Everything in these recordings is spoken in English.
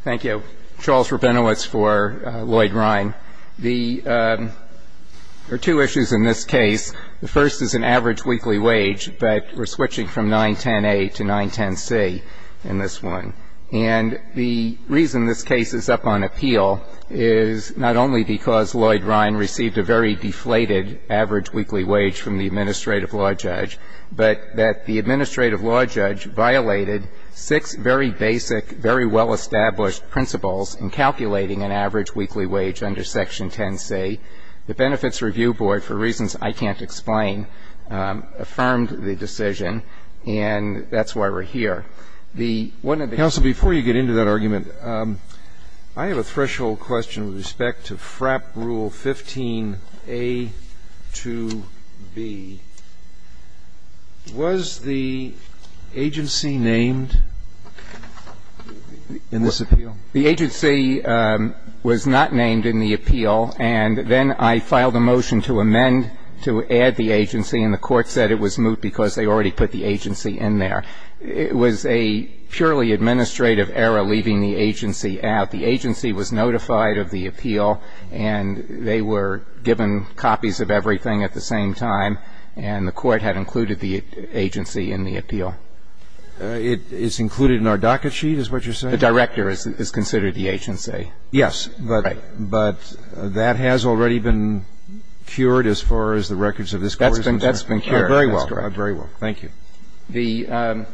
Thank you. Charles Rabinowitz for Lloyd Rhine. There are two issues in this case. The first is an average weekly wage, but we're switching from 910A to 910C in this one. And the reason this case is up on appeal is not only because Lloyd Rhine received a very deflated average weekly wage from the administrative law judge, but that the administrative law judge violated six very basic, very well-established principles in calculating an average weekly wage under Section 10C. The Benefits Review Board, for reasons I can't explain, affirmed the decision, and that's why we're here. The one of the ---- Roberts, counsel, before you get into that argument, I have a threshold question with respect to FRAP Rule 15a to b. Was the agency named in this appeal? The agency was not named in the appeal, and then I filed a motion to amend, to add the agency, and the Court said it was moot because they already put the agency in there. It was a purely administrative error leaving the agency out. The agency was notified of the appeal, and they were given copies of everything at the same time, and the Court had included the agency in the appeal. It's included in our docket sheet, is what you're saying? The director is considered the agency. Yes. Right. But that has already been cured as far as the records of this Court is concerned? That's been cured. Very well. That's correct. Very well. Thank you. The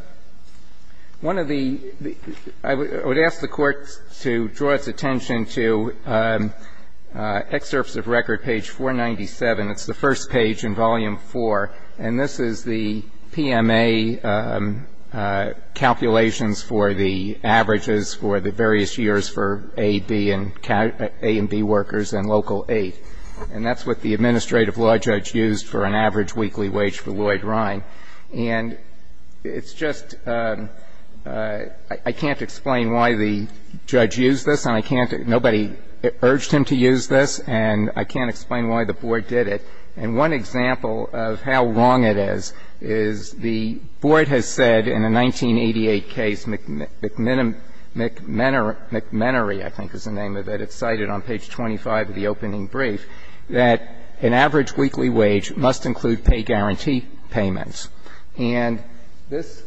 one of the ---- I would ask the Court to draw its attention to Excerpts of Record, page 497. It's the first page in Volume IV, and this is the PMA calculations for the averages for the various years for A, B, and A and B workers and local aid. And that's what the administrative law judge used for an average weekly wage for Lloyd Rhine. And it's just ---- I can't explain why the judge used this, and I can't ---- nobody urged him to use this, and I can't explain why the Board did it. And one example of how wrong it is, is the Board has said in a 1988 case, McMinnery, I think is the name of it. It's cited on page 25 of the opening brief, that an average weekly wage must include pay guarantee payments. And this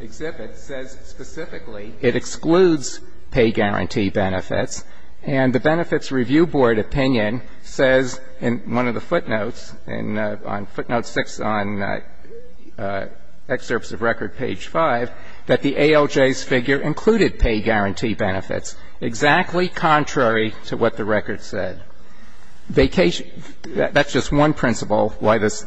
exhibit says specifically it excludes pay guarantee benefits. And the Benefits Review Board opinion says in one of the footnotes, on footnote 6 on Excerpts of Record, page 5, that the ALJ's figure included pay guarantee benefits, exactly contrary to what the record said. Vacation ---- that's just one principle why this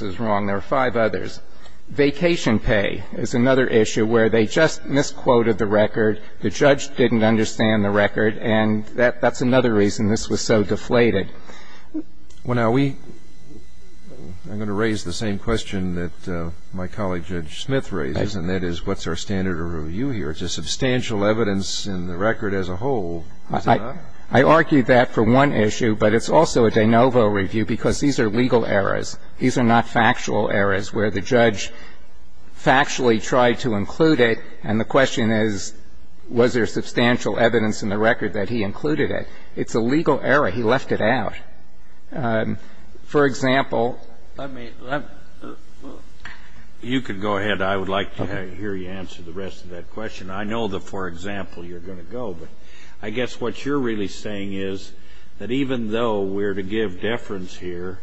is wrong. There are five others. Vacation pay is another issue where they just misquoted the record, the judge didn't understand the record, and that's another reason this was so deflated. Well, now, we ---- I'm going to raise the same question that my colleague Judge Smith raises, and that is what's our standard of review here? It's a substantial evidence in the record as a whole, is it not? I argued that for one issue, but it's also a de novo review because these are legal errors. These are not factual errors where the judge factually tried to include it, and the record that he included it. It's a legal error. He left it out. For example ---- Let me ---- you can go ahead. I would like to hear you answer the rest of that question. I know that for example you're going to go, but I guess what you're really saying is that even though we're to give deference here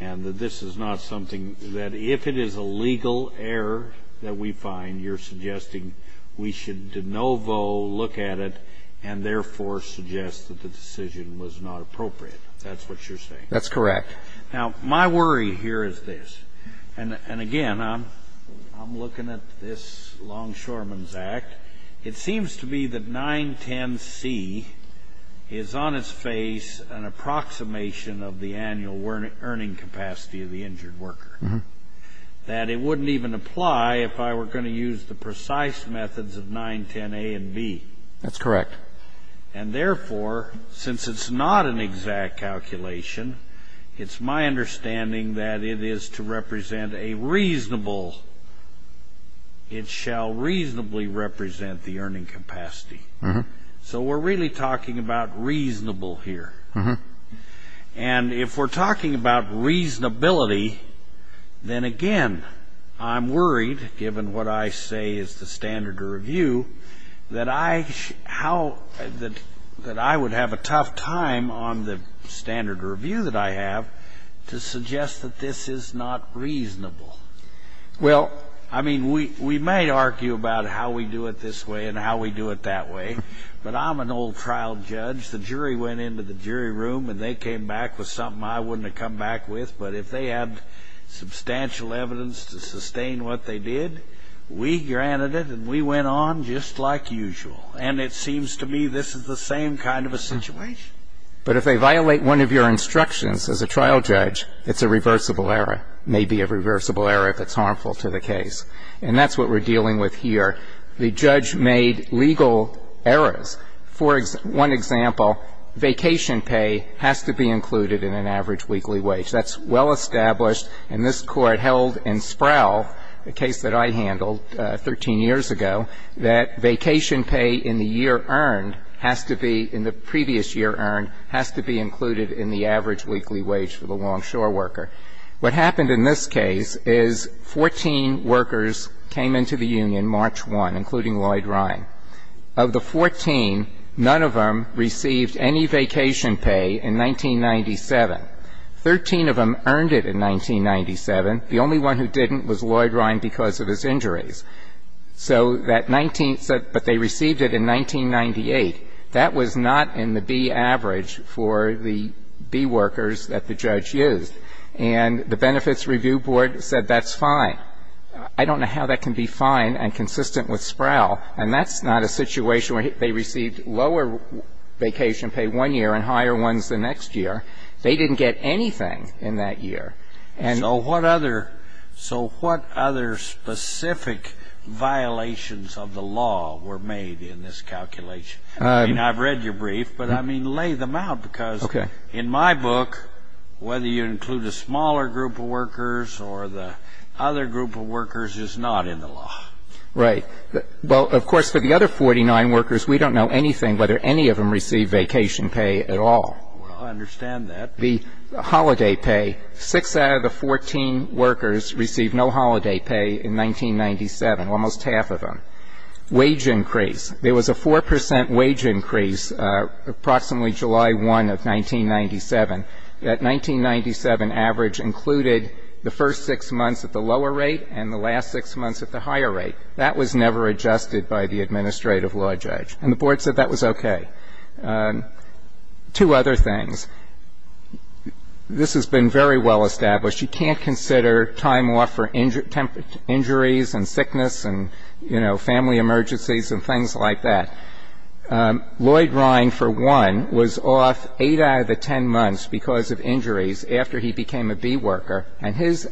and that this is not something that if it is a legal error that we find, you're suggesting we should de novo look at it and therefore suggest that the decision was not appropriate. That's what you're saying? That's correct. Now, my worry here is this. And again, I'm looking at this Longshoreman's Act. It seems to me that 910C is on its face an approximation of the annual earning capacity of the injured worker, that it wouldn't even apply if I were going to use the That's correct. And therefore, since it's not an exact calculation, it's my understanding that it is to represent a reasonable, it shall reasonably represent the earning capacity. So we're really talking about reasonable here. And if we're talking about reasonability, then again, I'm worried, given what I say is the standard of review, that I would have a tough time on the standard of review that I have to suggest that this is not reasonable. Well, I mean, we might argue about how we do it this way and how we do it that way. But I'm an old trial judge. The jury went into the jury room, and they came back with something I wouldn't have come back with. But if they had substantial evidence to sustain what they did, we granted it, and we went on just like usual. And it seems to me this is the same kind of a situation. But if they violate one of your instructions as a trial judge, it's a reversible error, maybe a reversible error if it's harmful to the case. And that's what we're dealing with here. The judge made legal errors. For one example, vacation pay has to be included in an average weekly wage. That's well established. And this Court held in Sproul, a case that I handled 13 years ago, that vacation pay in the year earned has to be, in the previous year earned, has to be included in the average weekly wage for the longshore worker. What happened in this case is 14 workers came into the union March 1, including Lloyd Ryan. Of the 14, none of them received any vacation pay in 1997. Thirteen of them earned it in 1997. The only one who didn't was Lloyd Ryan because of his injuries. So that 19th said, but they received it in 1998. That was not in the B average for the B workers that the judge used. And the Benefits Review Board said that's fine. I don't know how that can be fine and consistent with Sproul, and that's not a situation where they received lower vacation pay one year and higher ones the next year. They didn't get anything in that year. And so what other specific violations of the law were made in this calculation? I mean, I've read your brief, but, I mean, lay them out, because in my book, whether you include a smaller group of workers or the other group of workers, it's not in the law. Right. Well, of course, for the other 49 workers, we don't know anything whether any of them received vacation pay at all. Well, I understand that. The holiday pay, 6 out of the 14 workers received no holiday pay in 1997, almost half of them. Wage increase. There was a 4 percent wage increase approximately July 1 of 1997. That 1997 average included the first 6 months at the lower rate and the last 6 months at the higher rate. That was never adjusted by the administrative law judge. And the Board said that was okay. Two other things. This has been very well established. You can't consider time off for injuries and sickness and, you know, family emergencies and things like that. Lloyd Ryan, for one, was off 8 out of the 10 months because of injuries after he became a B worker, and his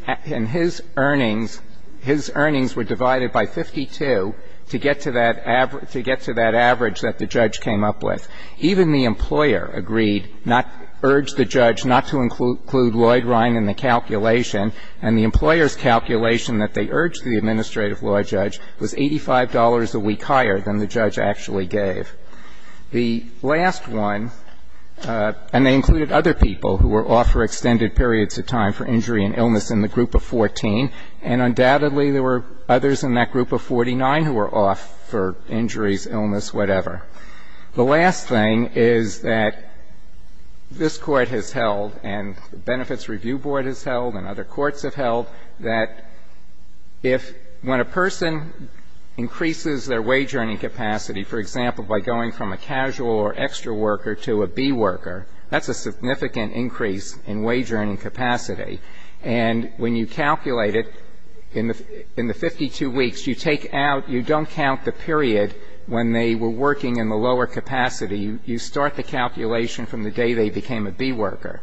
earnings were divided by 52 to get to that average that the judge came up with. Even the employer agreed, urged the judge not to include Lloyd Ryan in the calculation, and the employer's calculation that they urged the administrative law judge was $85 a week higher than the judge actually gave. The last one, and they included other people who were off for extended periods of time for injury and illness in the group of 14, and undoubtedly there were others in that The last thing is that this Court has held and the Benefits Review Board has held and other courts have held that if when a person increases their wage earning capacity, for example, by going from a casual or extra worker to a B worker, that's a significant increase in wage earning capacity. And when you calculate it, in the 52 weeks, you take out, you don't count the period when they were working in the lower capacity. You start the calculation from the day they became a B worker.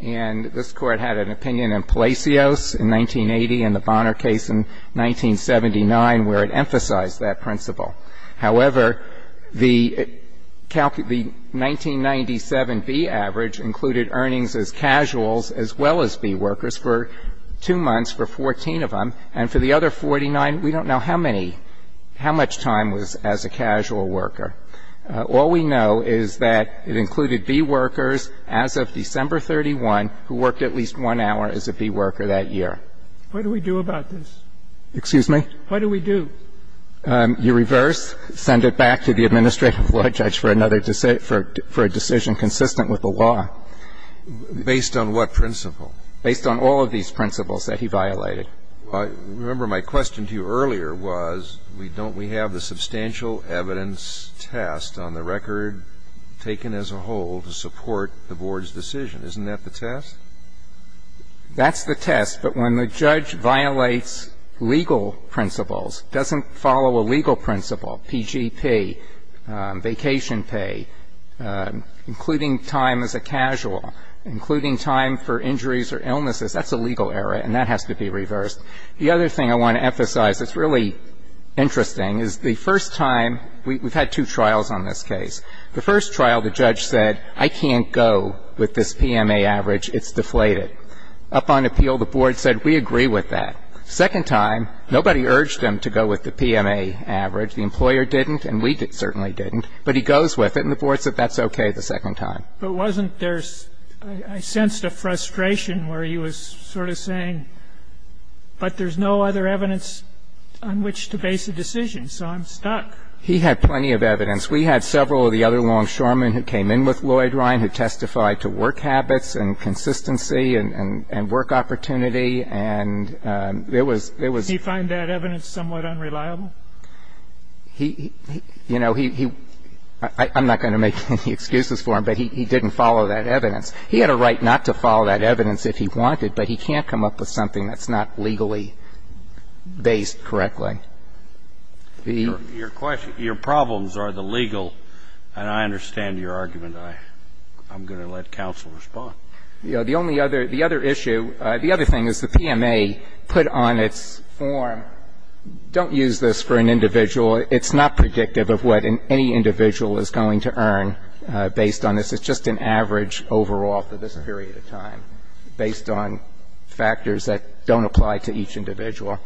And this Court had an opinion in Palacios in 1980 and the Bonner case in 1979 where it emphasized that principle. However, the 1997 B average included earnings as casuals as well as B workers for 2 months for 14 of them, and for the other 49, we don't know how many, how much of their time was as a casual worker. All we know is that it included B workers as of December 31 who worked at least one hour as a B worker that year. What do we do about this? Excuse me? What do we do? You reverse, send it back to the administrative law judge for another decision for a decision consistent with the law. Based on what principle? Based on all of these principles that he violated. Remember my question to you earlier was we don't, we have the substantial evidence test on the record taken as a whole to support the Board's decision. Isn't that the test? That's the test. But when the judge violates legal principles, doesn't follow a legal principle, PGP, vacation pay, including time as a casual, including time for injuries or illnesses, that's a legal error, and that has to be reversed. The other thing I want to emphasize that's really interesting is the first time we've had two trials on this case. The first trial, the judge said I can't go with this PMA average, it's deflated. Upon appeal, the Board said we agree with that. Second time, nobody urged him to go with the PMA average. The employer didn't, and we certainly didn't, but he goes with it, and the Board said that's okay the second time. But wasn't there, I sensed a frustration where he was sort of saying, but there's no other evidence on which to base a decision, so I'm stuck. He had plenty of evidence. We had several of the other longshoremen who came in with Lloyd Ryan who testified to work habits and consistency and work opportunity, and there was, there was. Did he find that evidence somewhat unreliable? He, you know, he, I'm not going to make any excuses for him, but he didn't follow that evidence. He had a right not to follow that evidence if he wanted, but he can't come up with something that's not legally based correctly. Your question, your problems are the legal, and I understand your argument. I'm going to let counsel respond. The only other, the other issue, the other thing is the PMA put on its form, don't use this for an individual. It's not predictive of what any individual is going to earn based on this. It's just an average overall for this period of time based on factors that don't apply to each individual.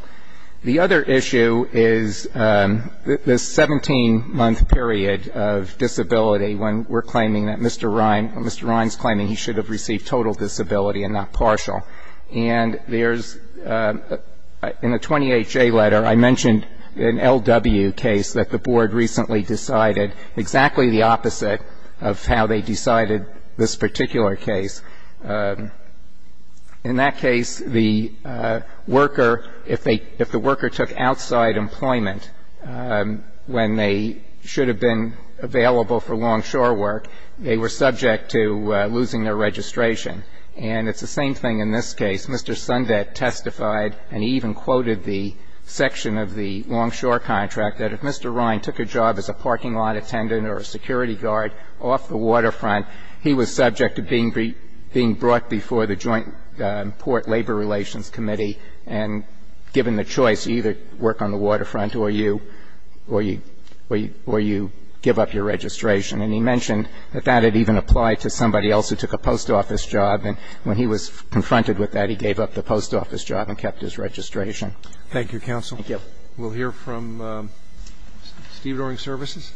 The other issue is this 17-month period of disability when we're claiming that Mr. Ryan, Mr. Ryan's claiming he should have received total disability and not partial. And there's, in the 20HA letter, I mentioned an LW case that the board recently decided exactly the opposite of how they decided this particular case. In that case, the worker, if the worker took outside employment when they should have been available for longshore work, they were subject to losing their registration. And it's the same thing in this case. Mr. Sundet testified, and he even quoted the section of the longshore contract, that if Mr. Ryan took a job as a parking lot attendant or a security guard off the waterfront, he was subject to being brought before the Joint Port Labor Relations Committee and given the choice to either work on the waterfront or you, or you give up your registration. And he mentioned that that had even applied to somebody else who took a post office job, and when he was confronted with that, he gave up the post office job and kept his registration. Thank you, counsel. Thank you. We'll hear from Steve Doring, Services.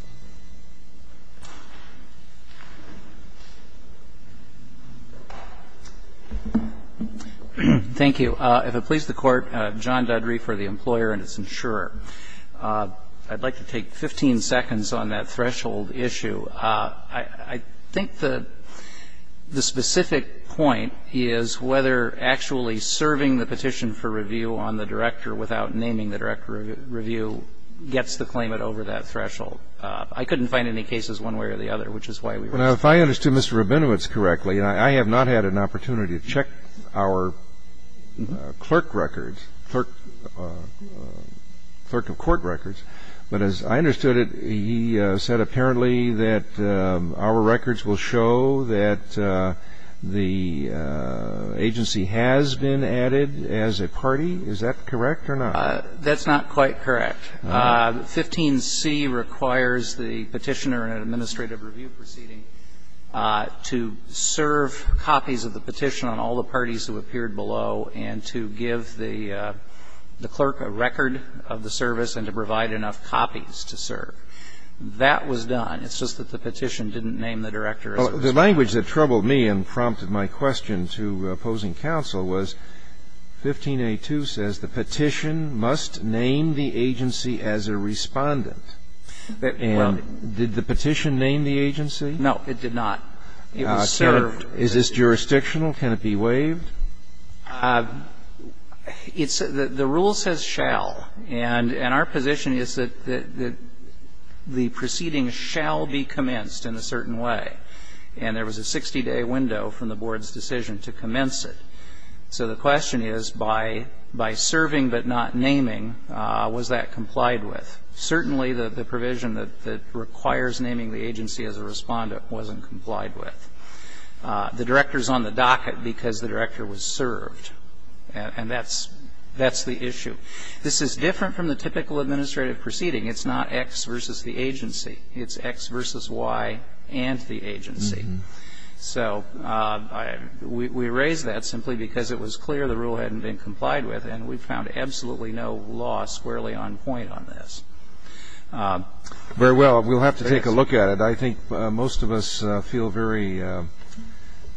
Thank you. If it pleases the Court, John Dudry for the employer and its insurer. I'd like to take 15 seconds on that threshold issue. I think the specific point is whether actually serving the petition for review on the director without naming the director of review gets the claimant over that threshold. I couldn't find any cases one way or the other, which is why we were asking. Well, if I understood Mr. Rabinowitz correctly, I have not had an opportunity to check our clerk records, clerk of court records. But as I understood it, he said apparently that our records will show that the agency has been added as a party. Is that correct or not? That's not quite correct. 15C requires the petitioner in an administrative review proceeding to serve copies of the petition on all the parties who appeared below and to give the clerk a record of the service and to provide enough copies to serve. That was done. It's just that the petition didn't name the director. The language that troubled me and prompted my question to opposing counsel was 15A2 says the petition must name the agency as a respondent. And did the petition name the agency? No, it did not. It was served. Is this jurisdictional? Can it be waived? It's the rule says shall. And our position is that the proceeding shall be commenced in a certain way. And there was a 60-day window from the board's decision to commence it. So the question is by serving but not naming, was that complied with? Certainly the provision that requires naming the agency as a respondent wasn't complied with. The director is on the docket because the director was served. And that's the issue. This is different from the typical administrative proceeding. It's not X versus the agency. It's X versus Y and the agency. So we raise that simply because it was clear the rule hadn't been complied with, and we found absolutely no law squarely on point on this. Very well. We'll have to take a look at it. I think most of us feel very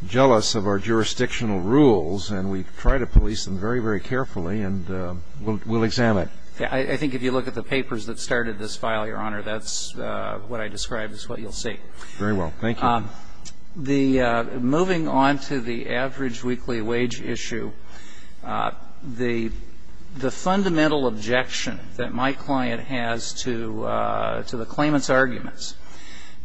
jealous of our jurisdictional rules, and we try to police them very, very carefully, and we'll examine it. I think if you look at the papers that started this file, Your Honor, that's what I described as what you'll see. Very well. Thank you. Moving on to the average weekly wage issue, the fundamental objection that my client has to the claimant's arguments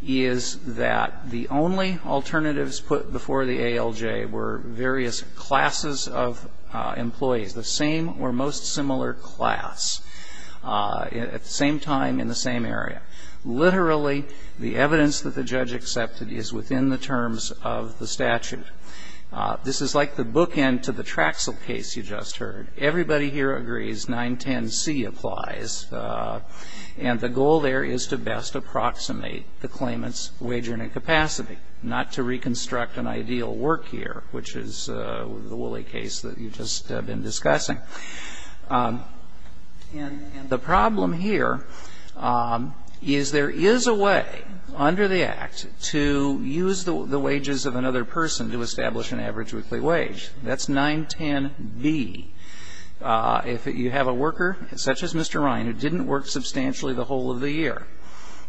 is that the only alternatives put before the ALJ were various classes of employees, the same or most similar class at the same time in the same area. Literally, the evidence that the judge accepted is within the terms of the statute. This is like the bookend to the Traxel case you just heard. Everybody here agrees 910C applies, and the goal there is to best approximate the claimant's wage earning capacity, not to reconstruct an ideal work year, which is the Woolley case that you've just been discussing. And the problem here is there is a way under the Act to use the wages of another person to establish an average weekly wage. That's 910B. If you have a worker such as Mr. Ryan who didn't work substantially the whole of the year,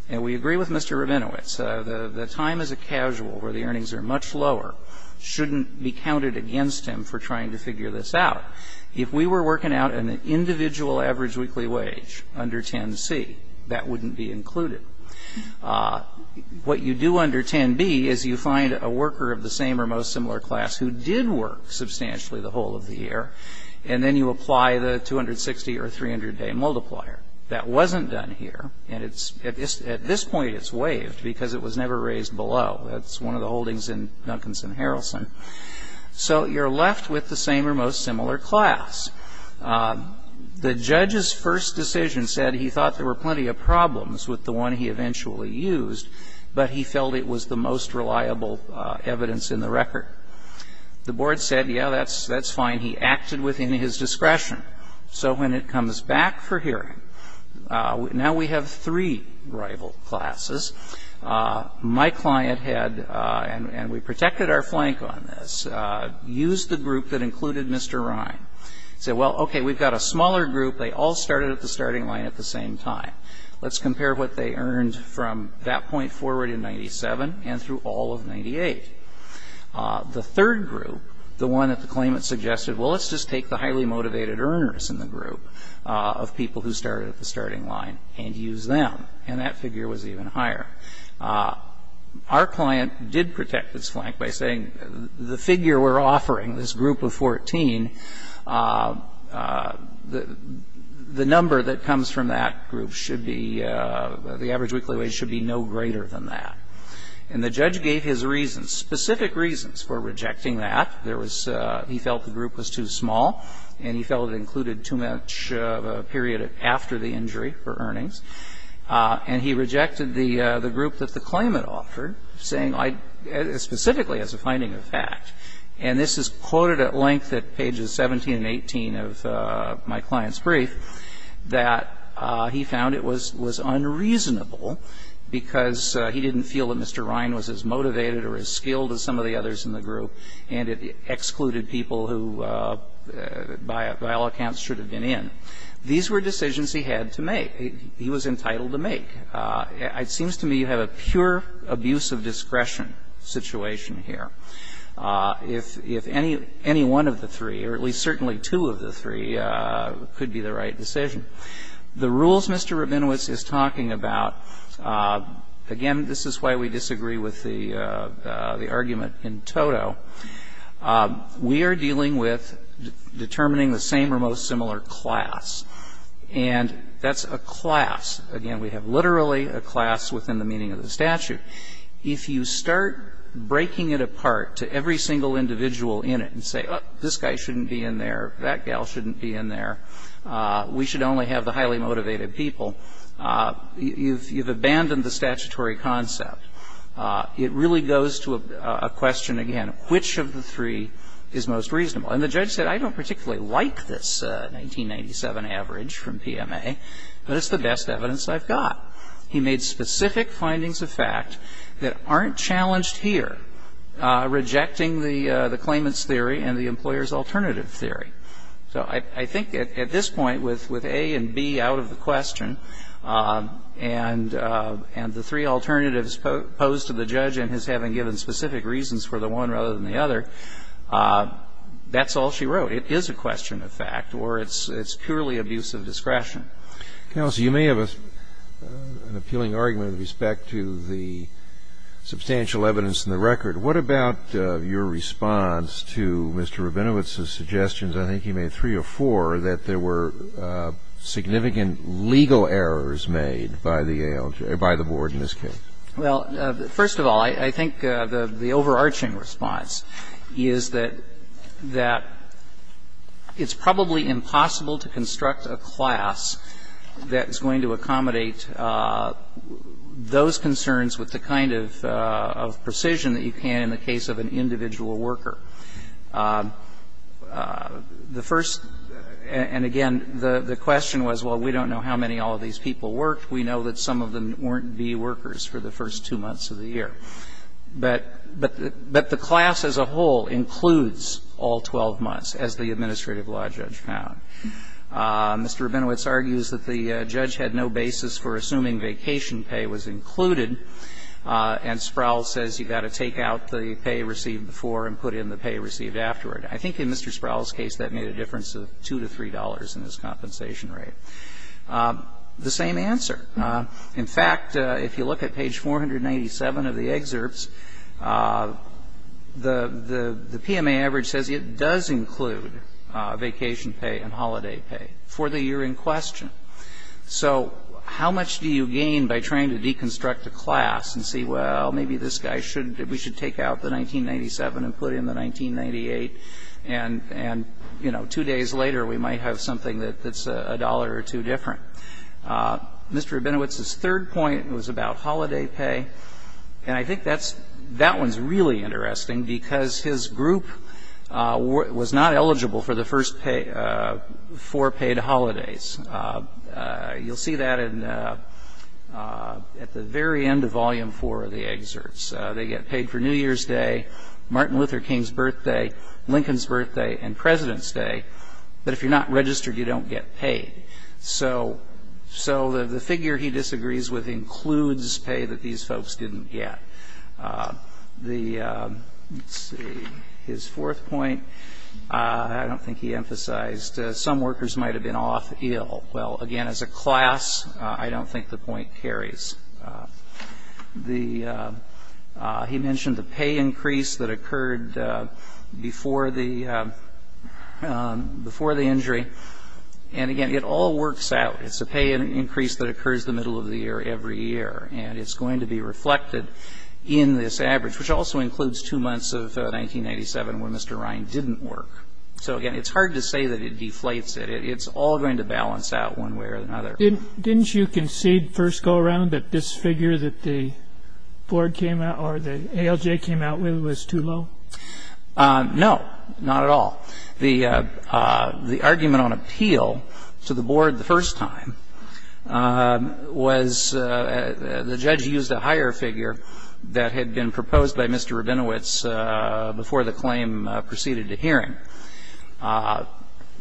and we agree with Mr. Rabinowitz, the time as a casual where the earnings are much lower shouldn't be counted against him for trying to figure this out. If we were working out an individual average weekly wage under 10C, that wouldn't be included. What you do under 10B is you find a worker of the same or most similar class who did work substantially the whole of the year, and then you apply the 260 or 300-day multiplier. That wasn't done here, and at this point it's waived because it was never raised below. That's one of the holdings in Duncanson-Harrison. So you're left with the same or most similar class. The judge's first decision said he thought there were plenty of problems with the one he eventually used, but he felt it was the most reliable evidence in the record. The board said, yeah, that's fine. He acted within his discretion. So when it comes back for hearing, now we have three rival classes. My client had, and we protected our flank on this, used the group that included Mr. Ryan, said, well, okay, we've got a smaller group. They all started at the starting line at the same time. Let's compare what they earned from that point forward in 97 and through all of 98. The third group, the one that the claimant suggested, well, let's just take the highly motivated earners in the group of people who started at the starting line and use them, and that figure was even higher. Our client did protect its flank by saying the figure we're offering, this group of 14, the number that comes from that group should be, the average weekly wage should be no greater than that. And the judge gave his reasons, specific reasons for rejecting that. He felt the group was too small, and he felt it included too much of a period after the injury for earnings. And he rejected the group that the claimant offered, saying specifically as a finding of fact. And this is quoted at length at pages 17 and 18 of my client's brief, that he found it was unreasonable because he didn't feel that Mr. Ryan was as motivated or as skilled as some of the others in the group, and it excluded people who by all accounts should have been in. These were decisions he had to make. He was entitled to make. It seems to me you have a pure abuse of discretion situation here. If any one of the three, or at least certainly two of the three, could be the right decision. The rules Mr. Rabinowitz is talking about, again, this is why we disagree with the argument in toto, we are dealing with determining the same or most similar class. And that's a class. Again, we have literally a class within the meaning of the statute. If you start breaking it apart to every single individual in it and say, oh, this guy shouldn't be in there, that gal shouldn't be in there, we should only have the highly motivated people, you've abandoned the statutory concept. It really goes to a question, again, which of the three is most reasonable? And the judge said, I don't particularly like this 1997 average from PMA, but it's the best evidence I've got. He made specific findings of fact that aren't challenged here, rejecting the claimant's theory and the employer's alternative theory. So I think at this point, with A and B out of the question, and the three alternatives posed to the judge in his having given specific reasons for the one rather than the other, that's all she wrote. It is a question of fact, or it's purely abuse of discretion. Kennedy. Counsel, you may have an appealing argument with respect to the substantial evidence in the record. What about your response to Mr. Rabinowitz's suggestions, I think he made three or four, that there were significant legal errors made by the board in this case? Well, first of all, I think the overarching response is that it's probably impossible to construct a class that's going to accommodate those concerns with the kind of precision that you can in the case of an individual worker. The first, and again, the question was, well, we don't know how many all of these people worked. We know that some of them weren't B workers for the first two months of the year. But the class as a whole includes all 12 months, as the administrative law judge found. Mr. Rabinowitz argues that the judge had no basis for assuming vacation pay was included, and Sproul says you've got to take out the pay received before and put in the pay received afterward. I think in Mr. Sproul's case that made a difference of $2 to $3 in his compensation rate. The same answer. In fact, if you look at page 497 of the excerpts, the PMA average says it does include vacation pay and holiday pay for the year in question. So how much do you gain by trying to deconstruct a class and say, well, maybe this guy, we should take out the 1997 and put in the 1998, and, you know, two days later we might have something that's a dollar or two different. Mr. Rabinowitz's third point was about holiday pay, and I think that one's really interesting because his group was not eligible for the first four paid holidays. You'll see that at the very end of volume four of the excerpts. They get paid for New Year's Day, Martin Luther King's birthday, Lincoln's birthday, and President's Day. But if you're not registered, you don't get paid. So the figure he disagrees with includes pay that these folks didn't get. The, let's see, his fourth point, I don't think he emphasized, some workers might have been off ill. Well, again, as a class, I don't think the point carries. The, he mentioned the pay increase that occurred before the, before the injury. And, again, it all works out. It's a pay increase that occurs the middle of the year every year, and it's going to be reflected in this average, which also includes two months of 1987 when Mr. Ryan didn't work. So, again, it's hard to say that it deflates it. It's all going to balance out one way or another. Didn't, didn't you concede first go around that this figure that the board came out or the ALJ came out with was too low? No, not at all. The, the argument on appeal to the board the first time was the judge used a higher figure that had been proposed by Mr. Rabinowitz before the claim proceeded to hearing.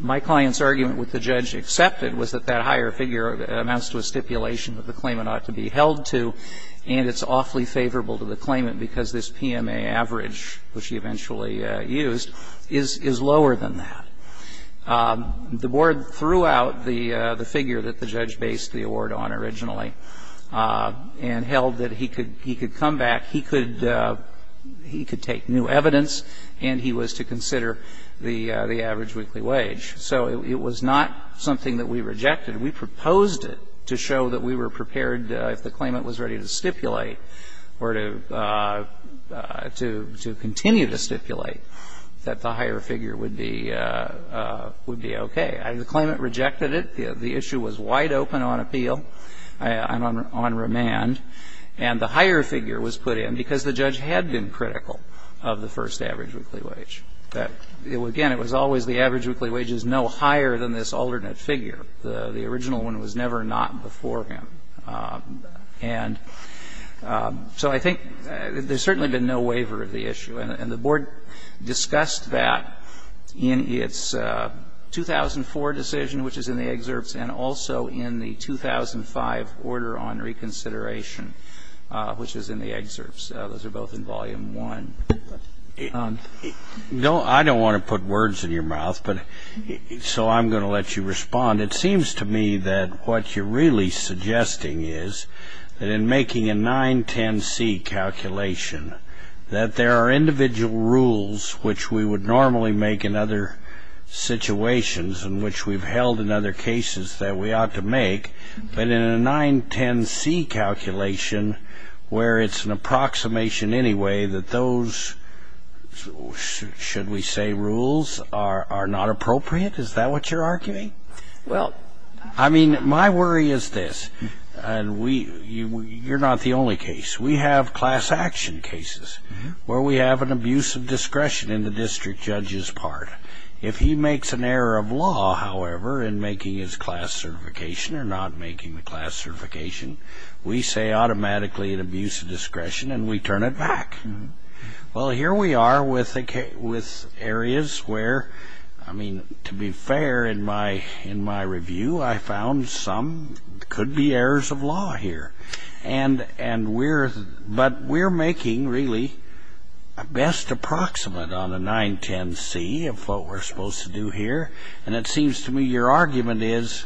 My client's argument with the judge accepted was that that higher figure amounts to a stipulation that the claimant ought to be held to, and it's awfully favorable to the claimant because this PMA average, which he eventually used, is, is lower than that. The board threw out the, the figure that the judge based the award on originally and held that he could, he could come back, he could, he could take new evidence and he was to consider the, the average weekly wage. So it, it was not something that we rejected. We proposed it to show that we were prepared if the claimant was ready to stipulate or to, to, to continue to stipulate that the higher figure would be, would be okay. The claimant rejected it. The, the issue was wide open on appeal and on, on remand. And the higher figure was put in because the judge had been critical of the first average weekly wage. That, again, it was always the average weekly wage is no higher than this alternate figure. The, the original one was never not before him. And so I think there's certainly been no waiver of the issue. And, and the board discussed that in its 2004 decision, which is in the excerpts, and also in the 2005 order on reconsideration, which is in the excerpts. Those are both in volume one. No, I don't want to put words in your mouth, but so I'm going to let you respond. It seems to me that what you're really suggesting is that in making a 910C calculation, that there are individual rules which we would normally make in other situations in which we've held in other cases that we ought to make. But in a 910C calculation where it's an approximation anyway that those, should we say, rules are, are not appropriate? Is that what you're arguing? Well. I mean, my worry is this. And we, you, you're not the only case. We have class action cases where we have an abuse of discretion in the district judge's part. If he makes an error of law, however, in making his class certification or not making the class certification, we say automatically an abuse of discretion and we turn it back. Well, here we are with, with areas where, I mean, to be fair in my, in my review, I found some could be errors of law here. And, and we're, but we're making really a best approximate on a 910C of what we're supposed to do here. And it seems to me your argument is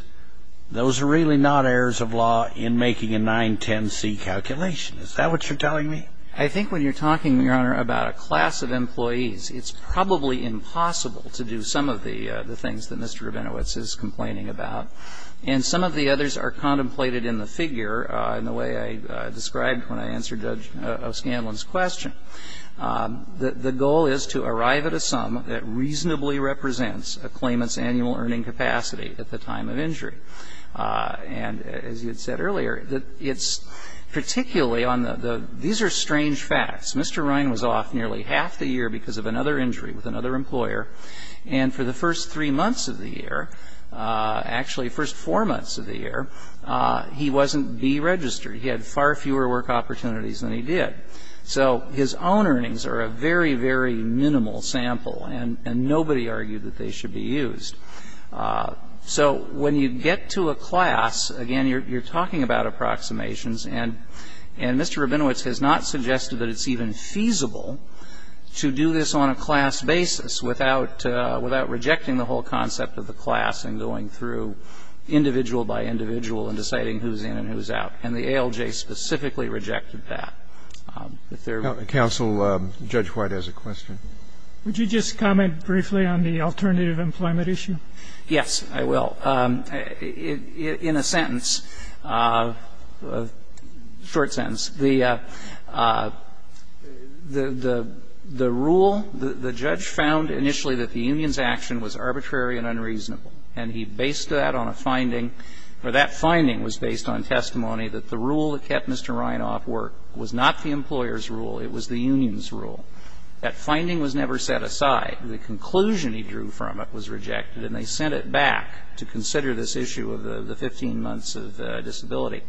those are really not errors of law in making a 910C calculation. Is that what you're telling me? I think when you're talking, Your Honor, about a class of employees, it's probably impossible to do some of the, the things that Mr. Rabinowitz is complaining about. And some of the others are contemplated in the figure, in the way I described when I answered Judge O'Scanlan's question. The, the goal is to arrive at a sum that reasonably represents a claimant's annual earning capacity at the time of injury. And as you had said earlier, it's particularly on the, the, these are strange facts. Mr. Ryan was off nearly half the year because of another injury with another employer. And for the first three months of the year, actually first four months of the year, he wasn't deregistered. He had far fewer work opportunities than he did. So his own earnings are a very, very minimal sample. And, and nobody argued that they should be used. So when you get to a class, again, you're, you're talking about approximations. And, and Mr. Rabinowitz has not suggested that it's even feasible to do this on a class basis without, without rejecting the whole concept of the class and going through individual by individual and deciding who's in and who's out. And the ALJ specifically rejected that. If there were. Counsel, Judge White has a question. Would you just comment briefly on the alternative employment issue? Yes, I will. In a sentence, short sentence, the, the, the rule, the judge found initially that the union's action was arbitrary and unreasonable. And he based that on a finding, or that finding was based on testimony that the rule that kept Mr. Ryan off work was not the employer's rule, it was the union's rule. That finding was never set aside. The conclusion he drew from it was rejected. And they sent it back to consider this issue of the, the 15 months of disability.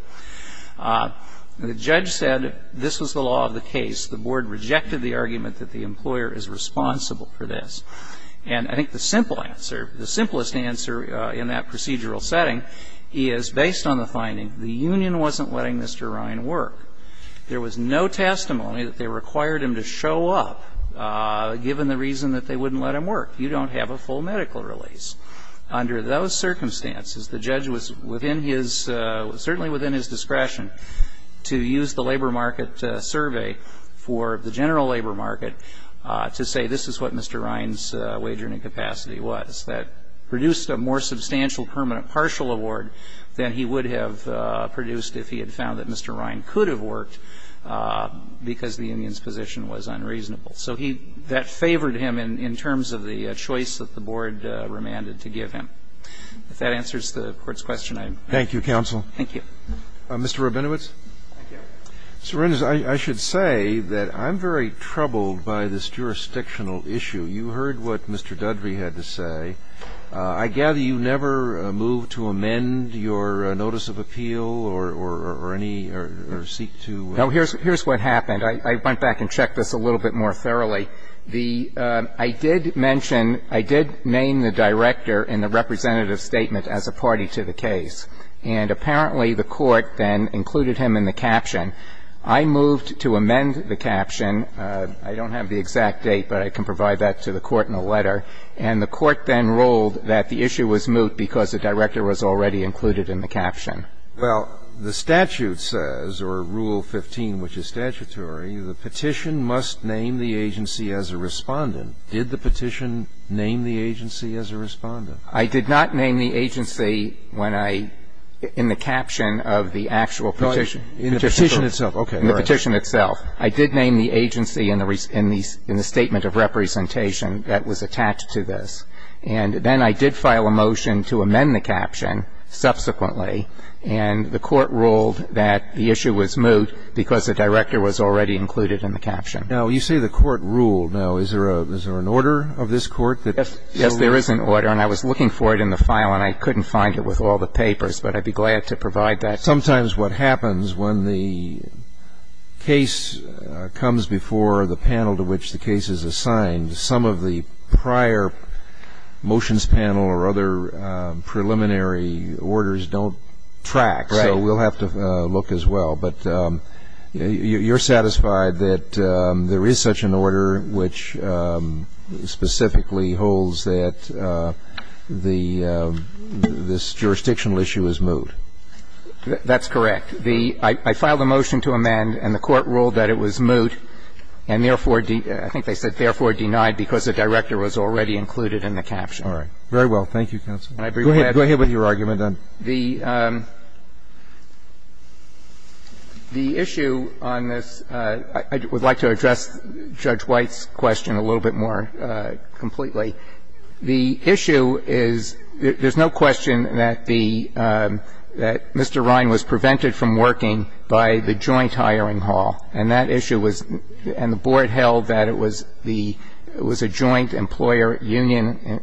The judge said this was the law of the case. The board rejected the argument that the employer is responsible for this. And I think the simple answer, the simplest answer in that procedural setting, is based on the finding, the union wasn't letting Mr. Ryan work. There was no testimony that they required him to show up, given the reason that they wouldn't let him work. You don't have a full medical release. Under those circumstances, the judge was within his, certainly within his discretion to use the labor market survey for the general labor market to say this is what Mr. Ryan's wage earning capacity was. That produced a more substantial permanent partial award than he would have produced if he had found that Mr. Ryan could have worked because the union's position was unreasonable. So he, that favored him in, in terms of the choice that the board remanded to give him. If that answers the Court's question, I'm. Thank you, counsel. Thank you. Mr. Rabinowitz. Thank you. Mr. Renders, I, I should say that I'm very troubled by this jurisdictional issue. You heard what Mr. Dudley had to say. I gather you never moved to amend your notice of appeal or, or, or any, or, or seek to. No, here's, here's what happened. I went back and checked this a little bit more thoroughly. The, I did mention, I did name the director in the representative statement as a party to the case. And apparently the court then included him in the caption. I moved to amend the caption. I don't have the exact date, but I can provide that to the court in a letter. And the court then ruled that the issue was moved because the director was already included in the caption. Well, the statute says, or Rule 15, which is statutory, the petition must name the agency as a respondent. Did the petition name the agency as a respondent? I did not name the agency when I, in the caption of the actual petition. In the petition itself, okay. In the petition itself. I did name the agency in the, in the, in the statement of representation that was attached to this. And then I did file a motion to amend the caption subsequently. And the court ruled that the issue was moved because the director was already included in the caption. Now, you say the court ruled. Now, is there a, is there an order of this court that. Yes, there is an order. And I was looking for it in the file and I couldn't find it with all the papers. But I'd be glad to provide that. Sometimes what happens when the case comes before the panel to which the case is assigned, some of the prior motions panel or other preliminary orders don't track. Right. So we'll have to look as well. But you're satisfied that there is such an order which specifically holds that the, this jurisdictional issue is moved? That's correct. The, I filed a motion to amend and the court ruled that it was moved. And therefore, I think they said therefore denied because the director was already included in the caption. All right. Very well. Thank you, counsel. And I'd be glad to. Go ahead. Go ahead with your argument. The, the issue on this, I would like to address Judge White's question a little bit more completely. The issue is, there's no question that the, that Mr. Rhine was prevented from working by the joint hiring hall. And that issue was, and the board held that it was the, it was a joint employer union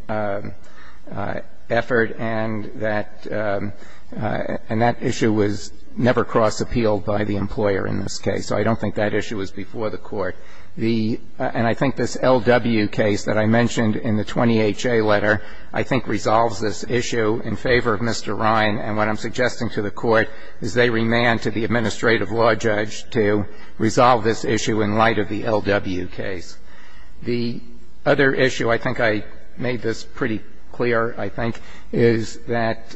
effort. And that, and that issue was never cross appealed by the employer in this case. So I don't think that issue was before the court. The, and I think this LW case that I mentioned in the 20HA letter, I think resolves this issue in favor of Mr. Rhine. And what I'm suggesting to the court is they remand to the administrative law judge to resolve this issue in light of the LW case. The other issue, I think I made this pretty clear, I think, is that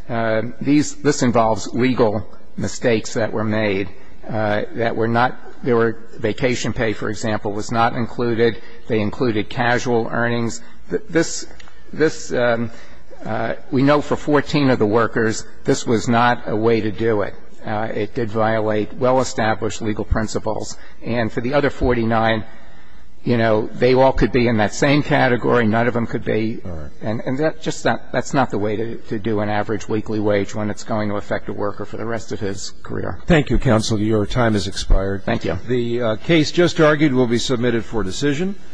these, this involves legal mistakes that were made. That were not, there were vacation pay, for example, was not included. They included casual earnings. This, this, we know for 14 of the workers, this was not a way to do it. It did violate well established legal principles. And for the other 49, you know, they all could be in that same category, none of them could be. And that, just that, that's not the way to do an average weekly wage when it's going to affect a worker for the rest of his career. Thank you, counsel. Your time has expired. Thank you. The case just argued will be submitted for decision.